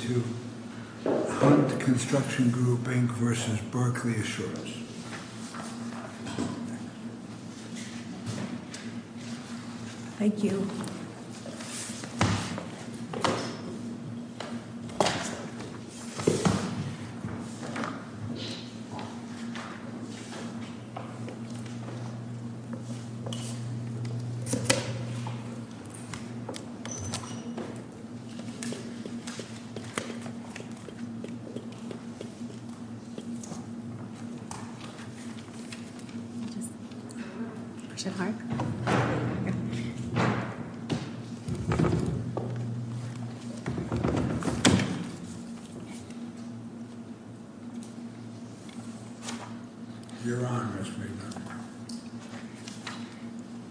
2532 Hunt Construction Group, Inc. v. Berkley Assurance 2532 Hunt Construction Group, Inc. v. Berkley Assurance Company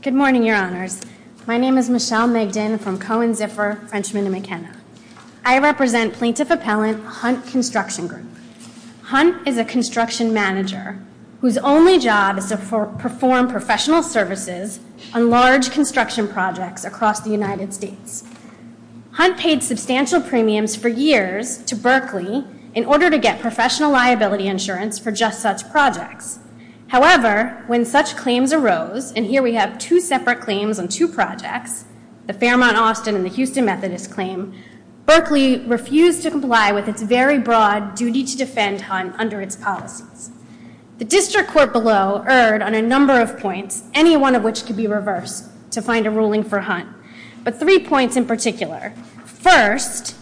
Good morning, Your Honors. My name is Michelle Megden from Cohen, Ziffer, Frenchman & McKenna. I represent Plaintiff Appellant Hunt Construction Group. Hunt is a construction manager whose only job is to perform professional services on large construction projects across the United States. Hunt paid substantial premiums for years to Berkley in order to get professional liability insurance for just such projects. However, when such claims arose, and here we have two separate claims on two projects, the Fairmont-Austin and the Houston-Methodist claim, Berkley refused to comply with its very broad duty to defend Hunt under its policies. The District Court below erred on a number of points, any one of which could be reversed to find a ruling for Hunt, but three points in particular. First,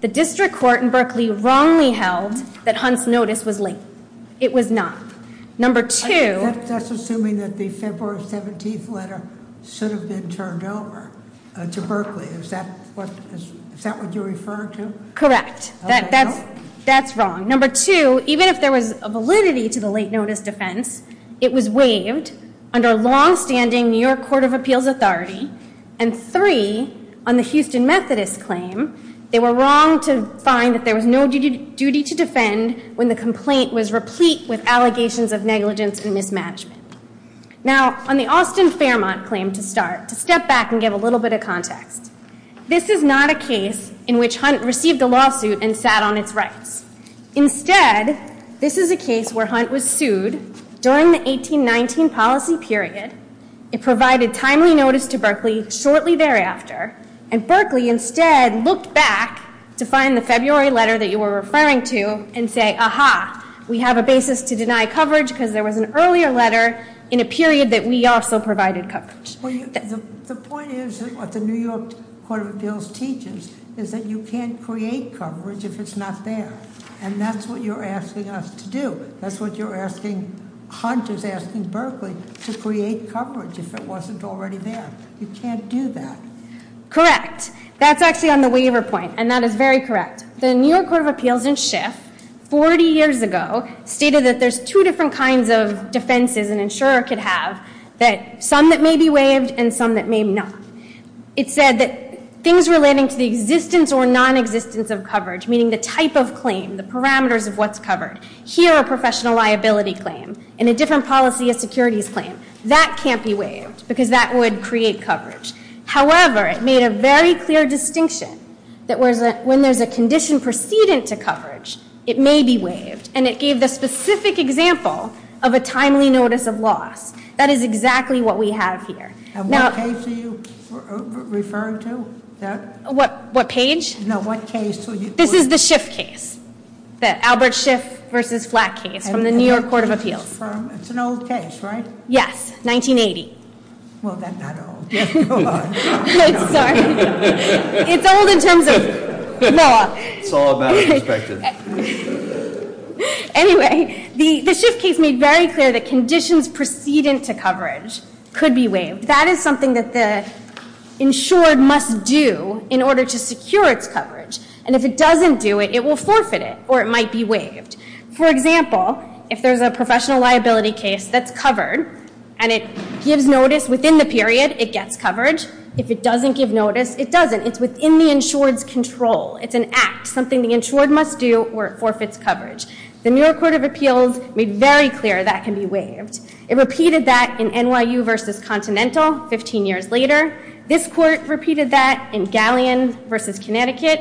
the District Court in Berkley wrongly held that Hunt's notice was late. It was not. Number two- That's assuming that the February 17th letter should have been turned over to Berkley. Is that what you refer to? Correct. That's wrong. Number two, even if there was a validity to the late notice defense, it was waived under longstanding New York Court of Appeals authority. And three, on the Houston-Methodist claim, they were wrong to find that there was no duty to defend when the complaint was replete with allegations of negligence and mismanagement. Now, on the Austin-Fairmont claim to start, to step back and give a little bit of context, this is not a case in which Hunt received a lawsuit and sat on its rights. Instead, this is a case where Hunt was sued during the 1819 policy period, it provided timely notice to Berkley shortly thereafter, and Berkley instead looked back to find the February letter that you were referring to and say, aha, we have a basis to deny coverage because there was an earlier letter in a period that we also provided coverage. The point is, what the New York Court of Appeals teaches, is that you can't create coverage if it's not there. And that's what you're asking us to do. That's what you're asking Hunt is asking Berkley, to create coverage if it wasn't already there. You can't do that. Correct. That's actually on the waiver point, and that is very correct. The New York Court of Appeals in Schiff, 40 years ago, stated that there's two different kinds of defenses an insurer could have, some that may be waived and some that may not. It said that things relating to the existence or nonexistence of coverage, meaning the type of claim, the parameters of what's covered, here a professional liability claim, in a different policy a securities claim, that can't be waived because that would create coverage. However, it made a very clear distinction, that when there's a condition precedent to coverage, it may be waived. And it gave the specific example of a timely notice of loss. That is exactly what we have here. And what case are you referring to? What page? No, what case? This is the Schiff case. The Albert Schiff v. Flack case from the New York Court of Appeals. It's an old case, right? Yes, 1980. Well, then not old. It's old in terms of law. It's all about perspective. Anyway, the Schiff case made very clear that conditions precedent to coverage could be waived. That is something that the insured must do in order to secure its coverage. And if it doesn't do it, it will forfeit it, or it might be waived. For example, if there's a professional liability case that's covered, and it gives notice within the period, it gets coverage. If it doesn't give notice, it doesn't. It's within the insured's control. It's an act, something the insured must do, or it forfeits coverage. The New York Court of Appeals made very clear that can be waived. It repeated that in NYU v. Continental, 15 years later. This court repeated that in Galleon v. Connecticut,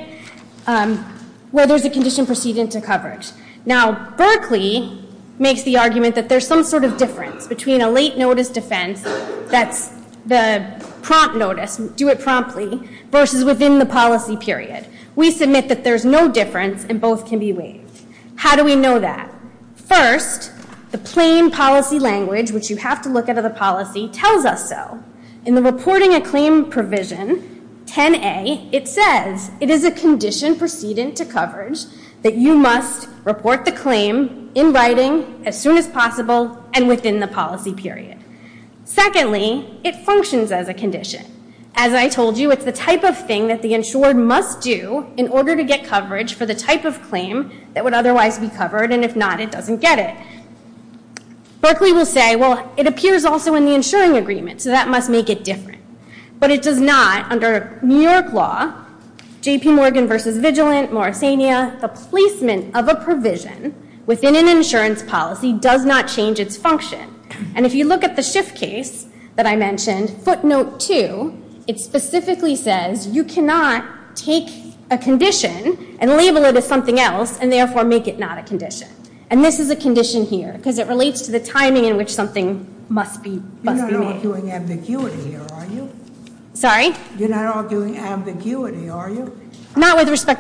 where there's a condition precedent to coverage. Now, Berkeley makes the argument that there's some sort of difference between a late notice defense that's the prompt notice, do it promptly, versus within the policy period. We submit that there's no difference, and both can be waived. How do we know that? First, the plain policy language, which you have to look at in the policy, tells us so. In the Reporting a Claim provision, 10a, it says, it is a condition precedent to coverage that you must report the claim in writing, as soon as possible, and within the policy period. Secondly, it functions as a condition. As I told you, it's the type of thing that the insured must do in order to get coverage for the type of claim that would otherwise be covered, and if not, it doesn't get it. Berkeley will say, well, it appears also in the insuring agreement, so that must make it different. But it does not, under New York law, J.P. Morgan v. Vigilant, Morrissania, the placement of a provision within an insurance policy does not change its function. And if you look at the Schiff case that I mentioned, footnote 2, it specifically says you cannot take a condition and label it as something else, and therefore make it not a condition. And this is a condition here, because it relates to the timing in which something must be made. You're not arguing ambiguity here, are you? Sorry? You're not to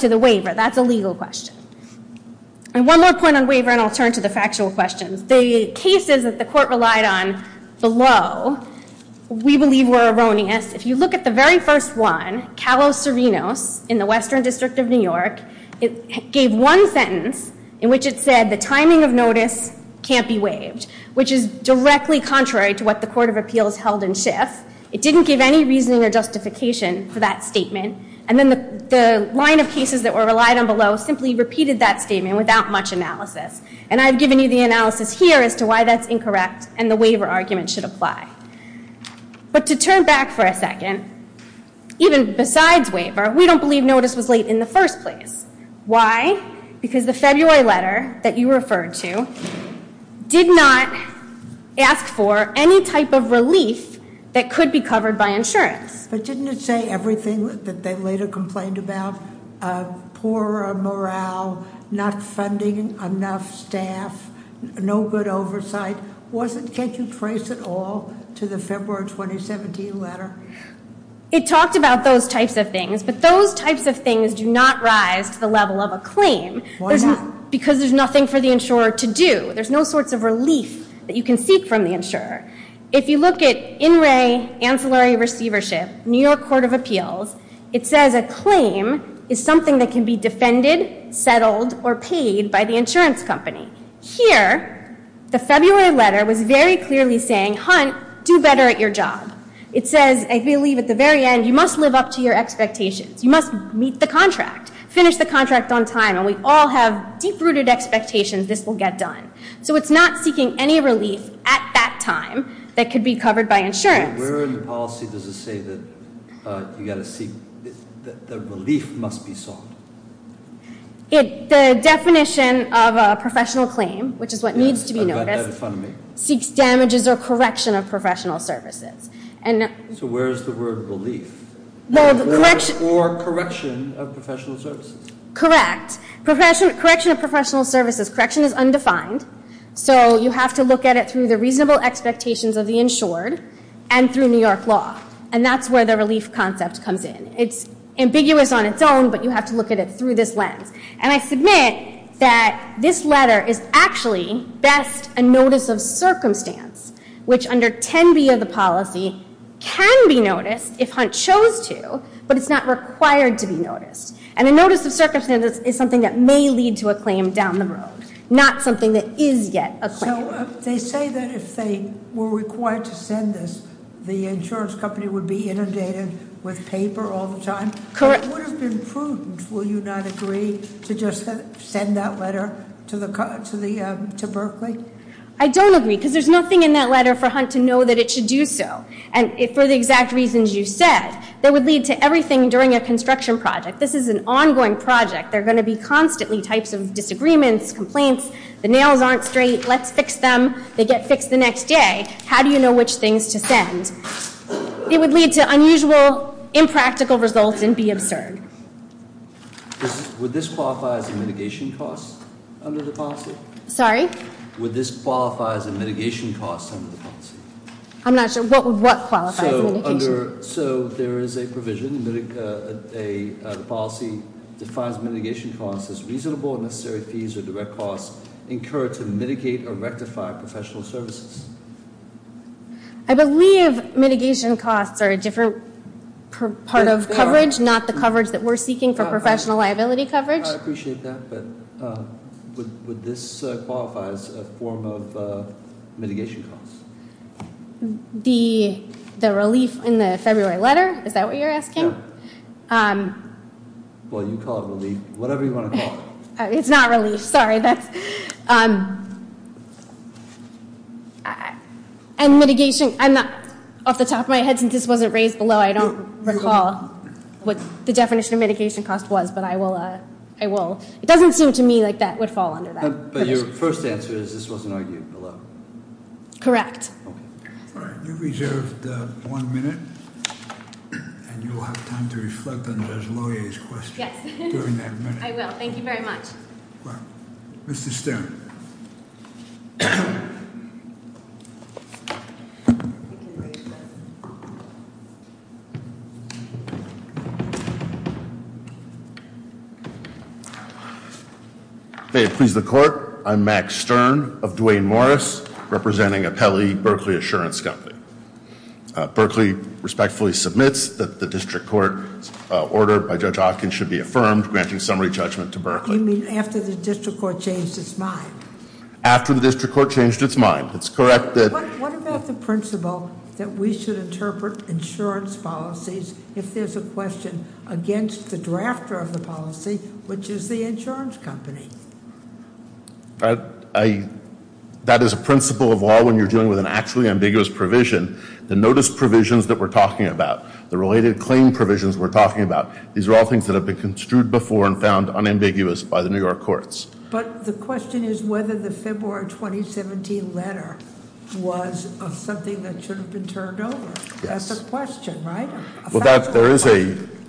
the waiver. That's a legal question. And one more point on waiver, and I'll turn to the factual questions. The cases that the court relied on below, we believe, were erroneous. If you look at the very first one, Kallos-Cerinos in the Western District of New York, it gave one sentence in which it said the timing of notice can't be waived, which is directly contrary to what the Court of Appeals held in Schiff. It didn't give any reasoning or reasons that were relied on below, simply repeated that statement without much analysis. And I've given you the analysis here as to why that's incorrect, and the waiver argument should apply. But to turn back for a second, even besides waiver, we don't believe notice was late in the first place. Why? Because the February letter that you referred to did not ask for any type of relief that could be covered by insurance. But didn't it say everything that they later complained about? Poor morale, not funding enough staff, no good oversight. Can't you trace it all to the February 2017 letter? It talked about those types of things, but those types of things do not rise to the level of a claim- Why not? Because there's nothing for the insurer to do. There's no sorts of relief that you can say, ancillary receivership, New York Court of Appeals, it says a claim is something that can be defended, settled, or paid by the insurance company. Here, the February letter was very clearly saying, Hunt, do better at your job. It says, I believe at the very end, you must live up to your expectations. You must meet the contract. Finish the contract on time, and we all have deep-rooted expectations this will get done. So it's not seeking any relief at that time that could be covered by insurance. Where in the policy does it say that you've got to seek- that the relief must be sought? The definition of a professional claim, which is what needs to be noticed, seeks damages or correction of professional services. So where is the word relief? Or correction of professional services? Correct. Correction of professional services. Correction is undefined, so you have to look at it through the reasonable expectations of the insured, and through New York law. And that's where the relief concept comes in. It's ambiguous on its own, but you have to look at it through this lens. And I submit that this letter is actually best a notice of circumstance, which under 10B of the policy can be noticed if Hunt chose to, but it's not required to be noticed. And a notice of circumstance is something that may lead to a claim down the road, not something that is yet a claim. So they say that if they were required to send this, the insurance company would be inundated with paper all the time? Correct. It would have been prudent, will you not agree, to just send that letter to Berkeley? I don't agree, because there's nothing in that letter for Hunt to know that it should do so. And for the exact reasons you said, that would lead to everything during a construction project. This is an ongoing project. There are going to be constantly types of disagreements, complaints. The nails aren't straight. Let's fix them. They get fixed the next day. How do you know which things to send? It would lead to unusual, impractical results and be absurd. Would this qualify as a mitigation cost under the policy? Sorry? Would this qualify as a mitigation cost under the policy? I'm not sure. What qualifies as a mitigation cost? So there is a provision. The policy defines mitigation costs as reasonable and necessary fees or direct costs incurred to mitigate or rectify professional services. I believe mitigation costs are a different part of coverage, not the coverage that we're seeking for professional liability coverage. I appreciate that, but would this qualify as a form of mitigation costs? The relief in the February letter? Is that what you're asking? Yeah. Well, you call it relief. Whatever you want to call it. It's not relief. Sorry. And mitigation, off the top of my head, since this wasn't raised below, I don't recall what the definition of mitigation cost was, but I will. It doesn't seem to me like that would fall under that. But your first answer is this wasn't argued below? Correct. All right. You've reserved one minute, and you'll have time to reflect on Judge Lauier's question during that minute. I will. Thank you very much. Mr. Stern. May it please the Court, I'm Max Stern of Duane Morris, representing Apelli Berkley Assurance Company. Berkley respectfully submits that the district court order by Judge Hopkins should be affirmed granting summary judgment to Berkley. You mean after the district court changed its mind? After the district court changed its mind. It's correct that... What about the principle that we should interpret insurance policies if there's a question against the drafter of the policy, which is the insurance company? That is a principle of law when you're dealing with an actually ambiguous provision. The notice provisions that we're talking about, the related claim provisions we're talking about, these are all things that have been construed before and found unambiguous by the New York courts. But the question is whether the February 2017 letter was something that should have been turned over. Yes. That's a question, right? Well, there is a,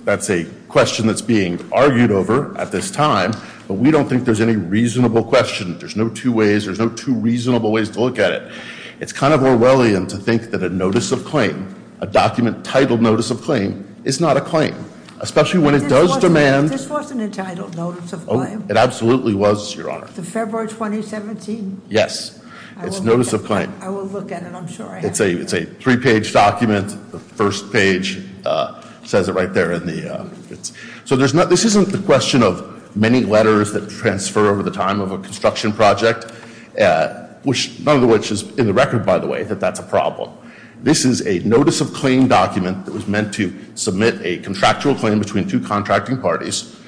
that's a question that's being argued over at this time, but we don't think there's any reasonable question. There's no two ways, there's no two reasonable ways to look at it. It's kind of Orwellian to think that a notice of claim, a document titled notice of claim, is not a claim. Especially when it does demand... This wasn't entitled notice of claim. It absolutely was, Your Honor. The February 2017? Yes. It's notice of claim. I will look at it. I'm sure I have it. It's a three-page document. The first page says it right there in the... So there's not, this isn't the question of many letters that transfer over the time of a construction project, which none of which is in the record, by the way, that that's a problem. This is a notice of claim document that was meant to submit a contractual claim between two contracting parties.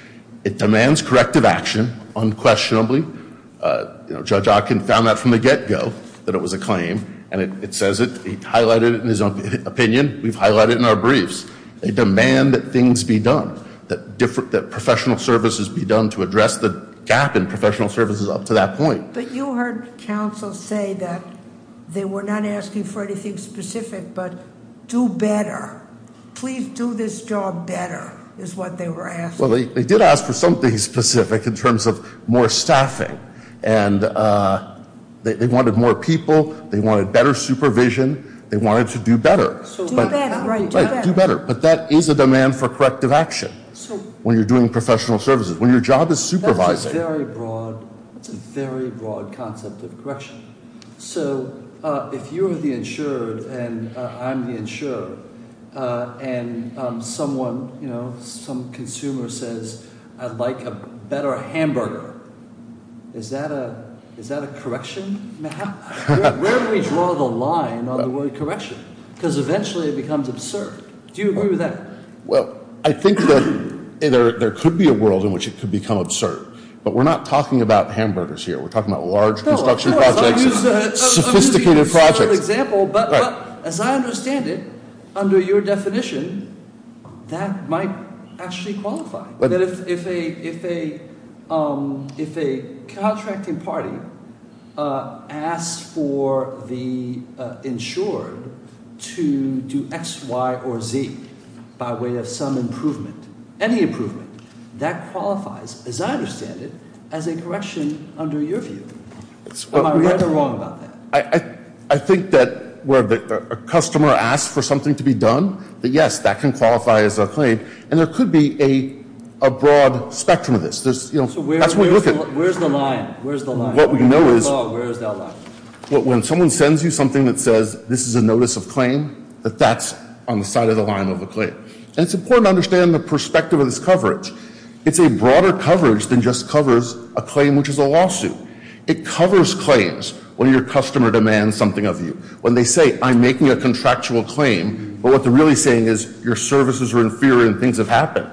It demands corrective action, unquestionably. You know, Judge Ocken found that from the get-go, that it was a claim, and it says it, he highlighted it in his own opinion. We've highlighted it in our briefs. They demand that things be done, that professional services be done to address the gap in professional services up to that point. But you heard counsel say that they were not asking for anything specific, but do better. Please do this job better, is what they were asking. Well, they did ask for something specific in terms of more staffing, and they wanted more people, they wanted better supervision, they wanted to do better. Do better, right. Right, do better. But that is a demand for corrective action when you're doing professional services, when your job is supervising. That's a very broad, that's a very broad concept of correction. So, if you're the insured, and I'm the insured, and someone, you know, some consumer says, I'd like a better hamburger, is that a, is that a correction? Where do we draw the line on the word correction? Because eventually it becomes absurd. Do you agree with that? Well, I think that there could be a world in which it could become absurd. But we're not talking about hamburgers here, we're talking about large construction projects, sophisticated projects. I'm using a simple example, but as I understand it, under your definition, that might actually qualify. That if a, if a, if a contracting party asks for the insured to do X, Y, or Z by way of some improvement, any improvement, that qualifies, as I understand it, as a correction under your view. Am I right or wrong about that? I think that where a customer asks for something to be done, that yes, that can qualify as a claim. And there could be a, a broad spectrum of this. There's, you know, that's what we look at. Where's the line? Where's the line? What we know is, Where's that line? When someone sends you something that says, this is a notice of claim, that that's on the side of the line of a claim. And it's important to understand the perspective of this coverage. It's a broader coverage than just covers a claim which is a lawsuit. It covers claims when your customer demands something of you. When they say, I'm making a contractual claim, but what they're really saying is, your services are inferior and things have happened.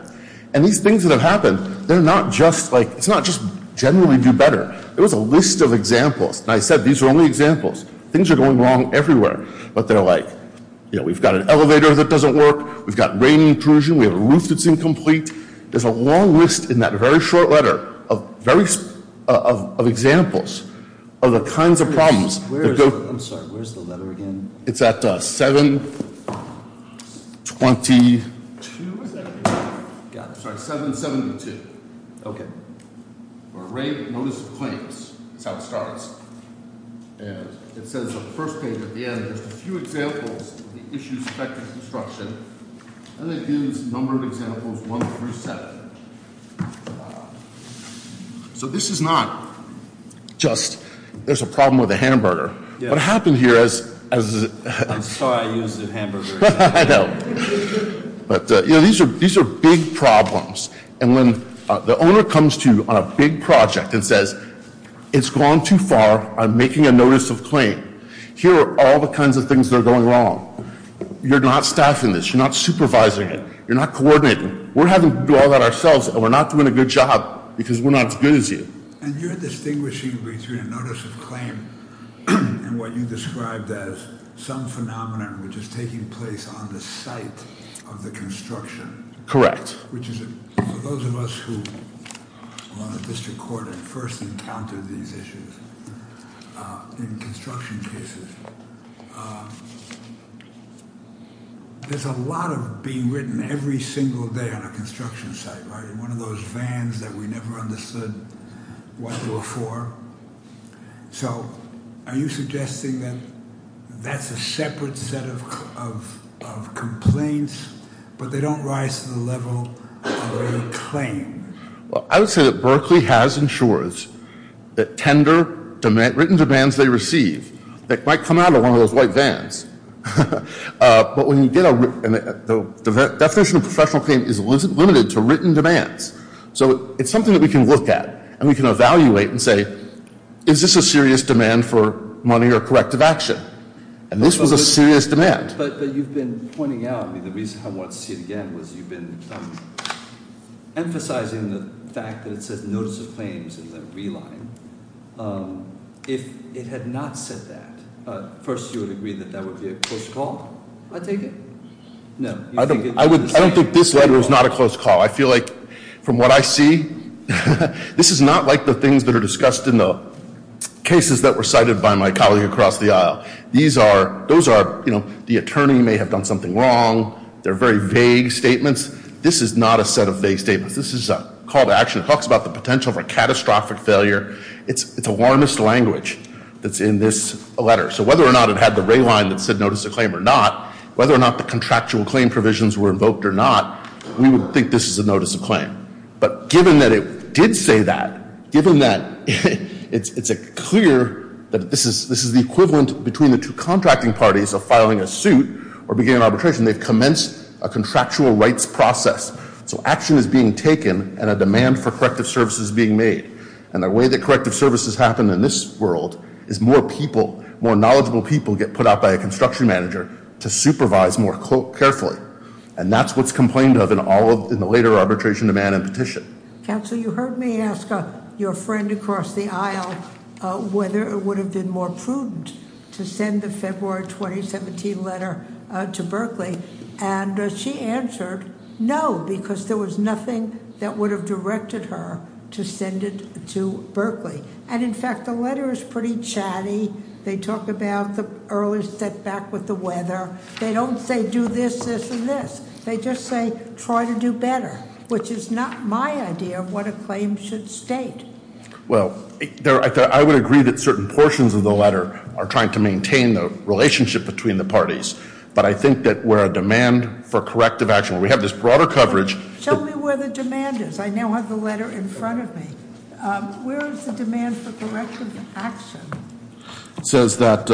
And these things that have happened, they're not just like, it's not just generally do better. It was a list of examples. And I said, these are only examples. Things are going wrong everywhere. But they're like, you know, we've got an elevator that doesn't work. We've got rain intrusion. We have a roof that's incomplete. There's a long list in that very short letter of very, of examples of the kinds of problems. I'm sorry. Where's the letter again? It's at 722. Got it. Sorry. 772. Okay. That's how it starts. And it says the first page at the end. There's a few examples of the issues affecting construction. And it gives a number of examples, one through seven. So this is not just, there's a problem with a hamburger. What happened here is... I'm sorry I used the hamburger. I know. But, you know, these are big problems. And when the owner comes to you on a big project and says, it's gone too far. I'm making a notice of claim. Here are all the kinds of things that are going wrong. You're not staffing this. You're not supervising it. You're not coordinating. We're having to do all that ourselves and we're not doing a good job because we're not as good as you. And you're distinguishing between a notice of claim and what you described as some phenomenon which is taking place on the site of the construction. Correct. For those of us who are on the district court and first encountered these issues in construction cases, there's a lot of being written every single day on a construction site, right? One of those vans that we never understood what they were for. So, are you suggesting that that's a separate set of complaints, but they don't rise to the level of a claim? I would say that Berkeley has insurers that tender written demands they receive that might come out of one of those white vans. But when you get a written... The definition of professional claim is limited to written demands. So, it's something that we can look at and we can evaluate and say, is this a serious demand for money or corrective action? And this was a serious demand. But you've been pointing out, I mean, the reason I want to see it again was you've been emphasizing the fact that it says notice of claims in the reline. If it had not said that, first you would agree that that would be a close call? I take it? No. I don't think this letter is not a close call. I feel like from what I see, this is not like the things that are discussed in the cases that were cited by my colleague across the aisle. These are... Those are, you know, the attorney may have done something wrong. They're very vague statements. This is not a set of vague statements. This is a call to action. It talks about the potential for catastrophic failure. It's a warmest language that's in this letter. So, whether or not it had the reline that said notice of claim or not, whether or not the contractual claim provisions were invoked or not, we would think this is a notice of claim. But given that it did say that, given that it's clear that this is the equivalent between the two contracting parties of filing a suit or beginning arbitration, they've commenced a contractual rights process. So action is being taken and a demand for corrective services is being made. And the way that corrective services happen in this world is more people, more knowledgeable people get put out by a construction manager to supervise more carefully. And that's what's complained of in all of the later arbitration demand and petition. Counsel, you heard me ask your friend across the aisle whether it would have been more prudent to send the February 2017 letter to Berkeley. And she answered no, because there was nothing that would have directed her to send it to Berkeley. And, in fact, the letter is pretty chatty. They talk about the early setback with the weather. They don't say do this, this, and this. They just say try to do better, which is not my idea of what a claim should state. Well, I would agree that certain portions of the letter are trying to maintain the relationship between the parties. But I think that where a demand for corrective action, where we have this broader coverage- Show me where the demand is. I now have the letter in front of me. Where is the demand for corrective action? It says that-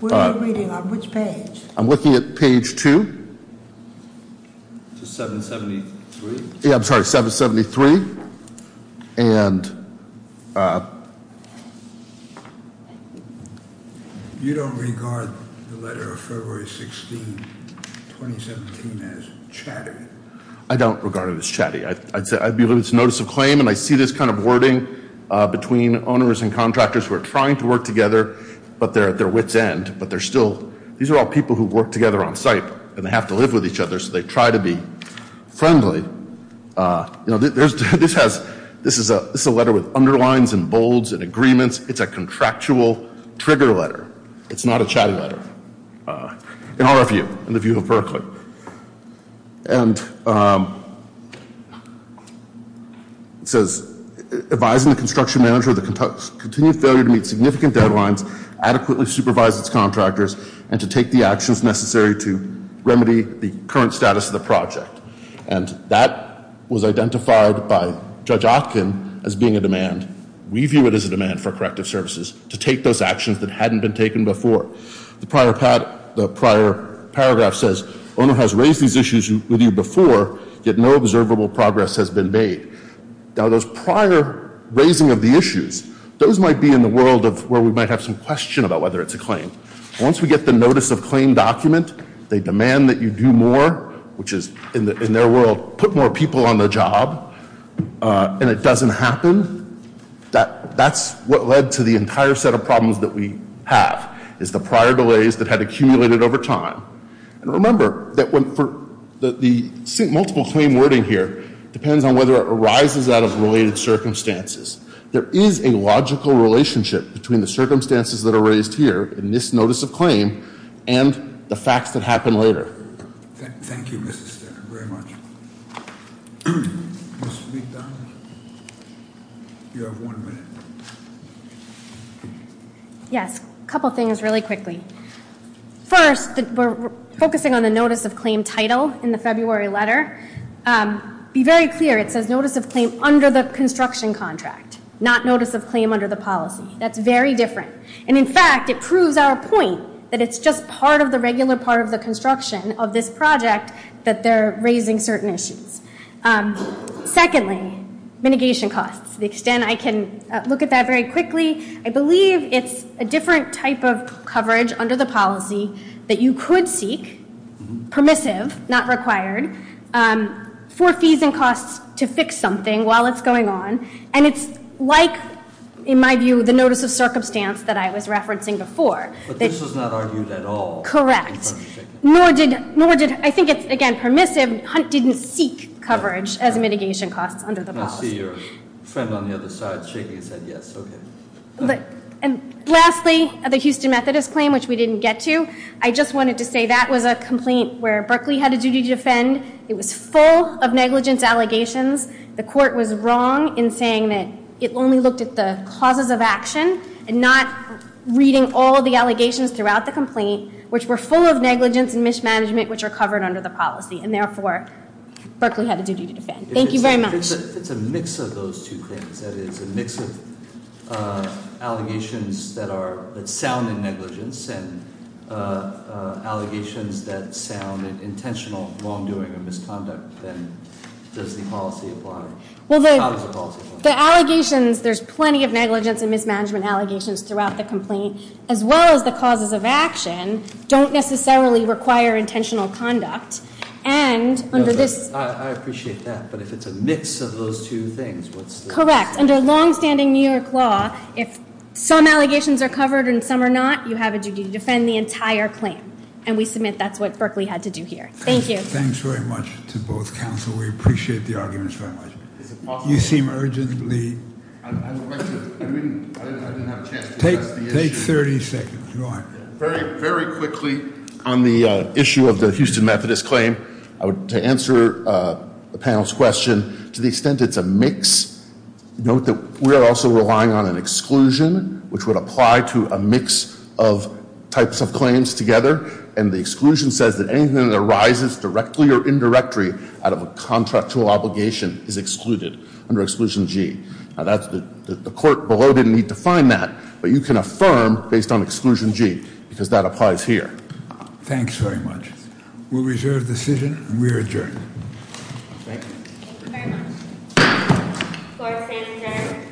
What are you reading? On which page? I'm looking at page two. It's a 773. Yeah, I'm sorry, 773. And- You don't regard the letter of February 16, 2017 as chatty. I don't regard it as chatty. I believe it's a notice of claim, and I see this kind of wording between owners and contractors who are trying to work together, but they're at their wits' end. But they're still- These are all people who work together on site, and they have to live with each other, so they try to be friendly. This is a letter with underlines and bolds and agreements. It's a contractual trigger letter. It's not a chatty letter, in our view, in the view of Berkeley. And it says, advising the construction manager of the continued failure to meet significant deadlines, adequately supervise its contractors, and to take the actions necessary to remedy the current status of the project. And that was identified by Judge Atkin as being a demand. We view it as a demand for corrective services, to take those actions that hadn't been taken before. The prior paragraph says, owner has raised these issues with you before, yet no observable progress has been made. Now, those prior raising of the issues, those might be in the world of where we might have some question about whether it's a claim. Once we get the notice of claim document, they demand that you do more, which is, in their world, put more people on the job, and it doesn't happen. That's what led to the entire set of problems that we have, is the prior delays that had accumulated over time. And remember that the multiple claim wording here depends on whether it arises out of related circumstances. There is a logical relationship between the circumstances that are raised here in this notice of claim and the facts that happen later. Thank you, Mrs. Stenner, very much. Ms. McDonald? You have one minute. Yes, a couple things really quickly. First, we're focusing on the notice of claim title in the February letter. Be very clear, it says notice of claim under the construction contract, not notice of claim under the policy. That's very different. And, in fact, it proves our point that it's just part of the regular part of the construction of this project that they're raising certain issues. Secondly, mitigation costs. To the extent I can look at that very quickly, I believe it's a different type of coverage under the policy that you could seek, permissive, not required, for fees and costs to fix something while it's going on. And it's like, in my view, the notice of circumstance that I was referencing before. But this was not argued at all. Correct. Nor did, I think it's again permissive, Hunt didn't seek coverage as a mitigation cost under the policy. I see your friend on the other side shaking his head yes, okay. And lastly, the Houston Methodist claim, which we didn't get to. I just wanted to say that was a complaint where Berkeley had a duty to defend. It was full of negligence allegations. The court was wrong in saying that it only looked at the causes of action and not reading all the allegations throughout the complaint, which were full of negligence and mismanagement, which are covered under the policy. And, therefore, Berkeley had a duty to defend. Thank you very much. If it's a mix of those two things, that is a mix of allegations that sound in negligence and allegations that sound in intentional wrongdoing or misconduct, then does the policy apply? How does the policy apply? The allegations, there's plenty of negligence and mismanagement allegations throughout the complaint, as well as the causes of action, don't necessarily require intentional conduct. I appreciate that, but if it's a mix of those two things, what's the- Correct. Under longstanding New York law, if some allegations are covered and some are not, you have a duty to defend the entire claim. And we submit that's what Berkeley had to do here. Thank you. Thanks very much to both counsel. We appreciate the arguments very much. You seem urgently- I didn't have a chance to address the issue. Take 30 seconds. Go on. Very, very quickly on the issue of the Houston Methodist claim. To answer the panel's question, to the extent it's a mix, note that we're also relying on an exclusion, which would apply to a mix of types of claims together. And the exclusion says that anything that arises directly or indirectly out of a contractual obligation is excluded under Exclusion G. The court below didn't need to find that, but you can affirm based on Exclusion G, because that applies here. Thanks very much. We'll reserve the decision, and we are adjourned. Thank you. Thank you very much. Court is adjourned. Thank you.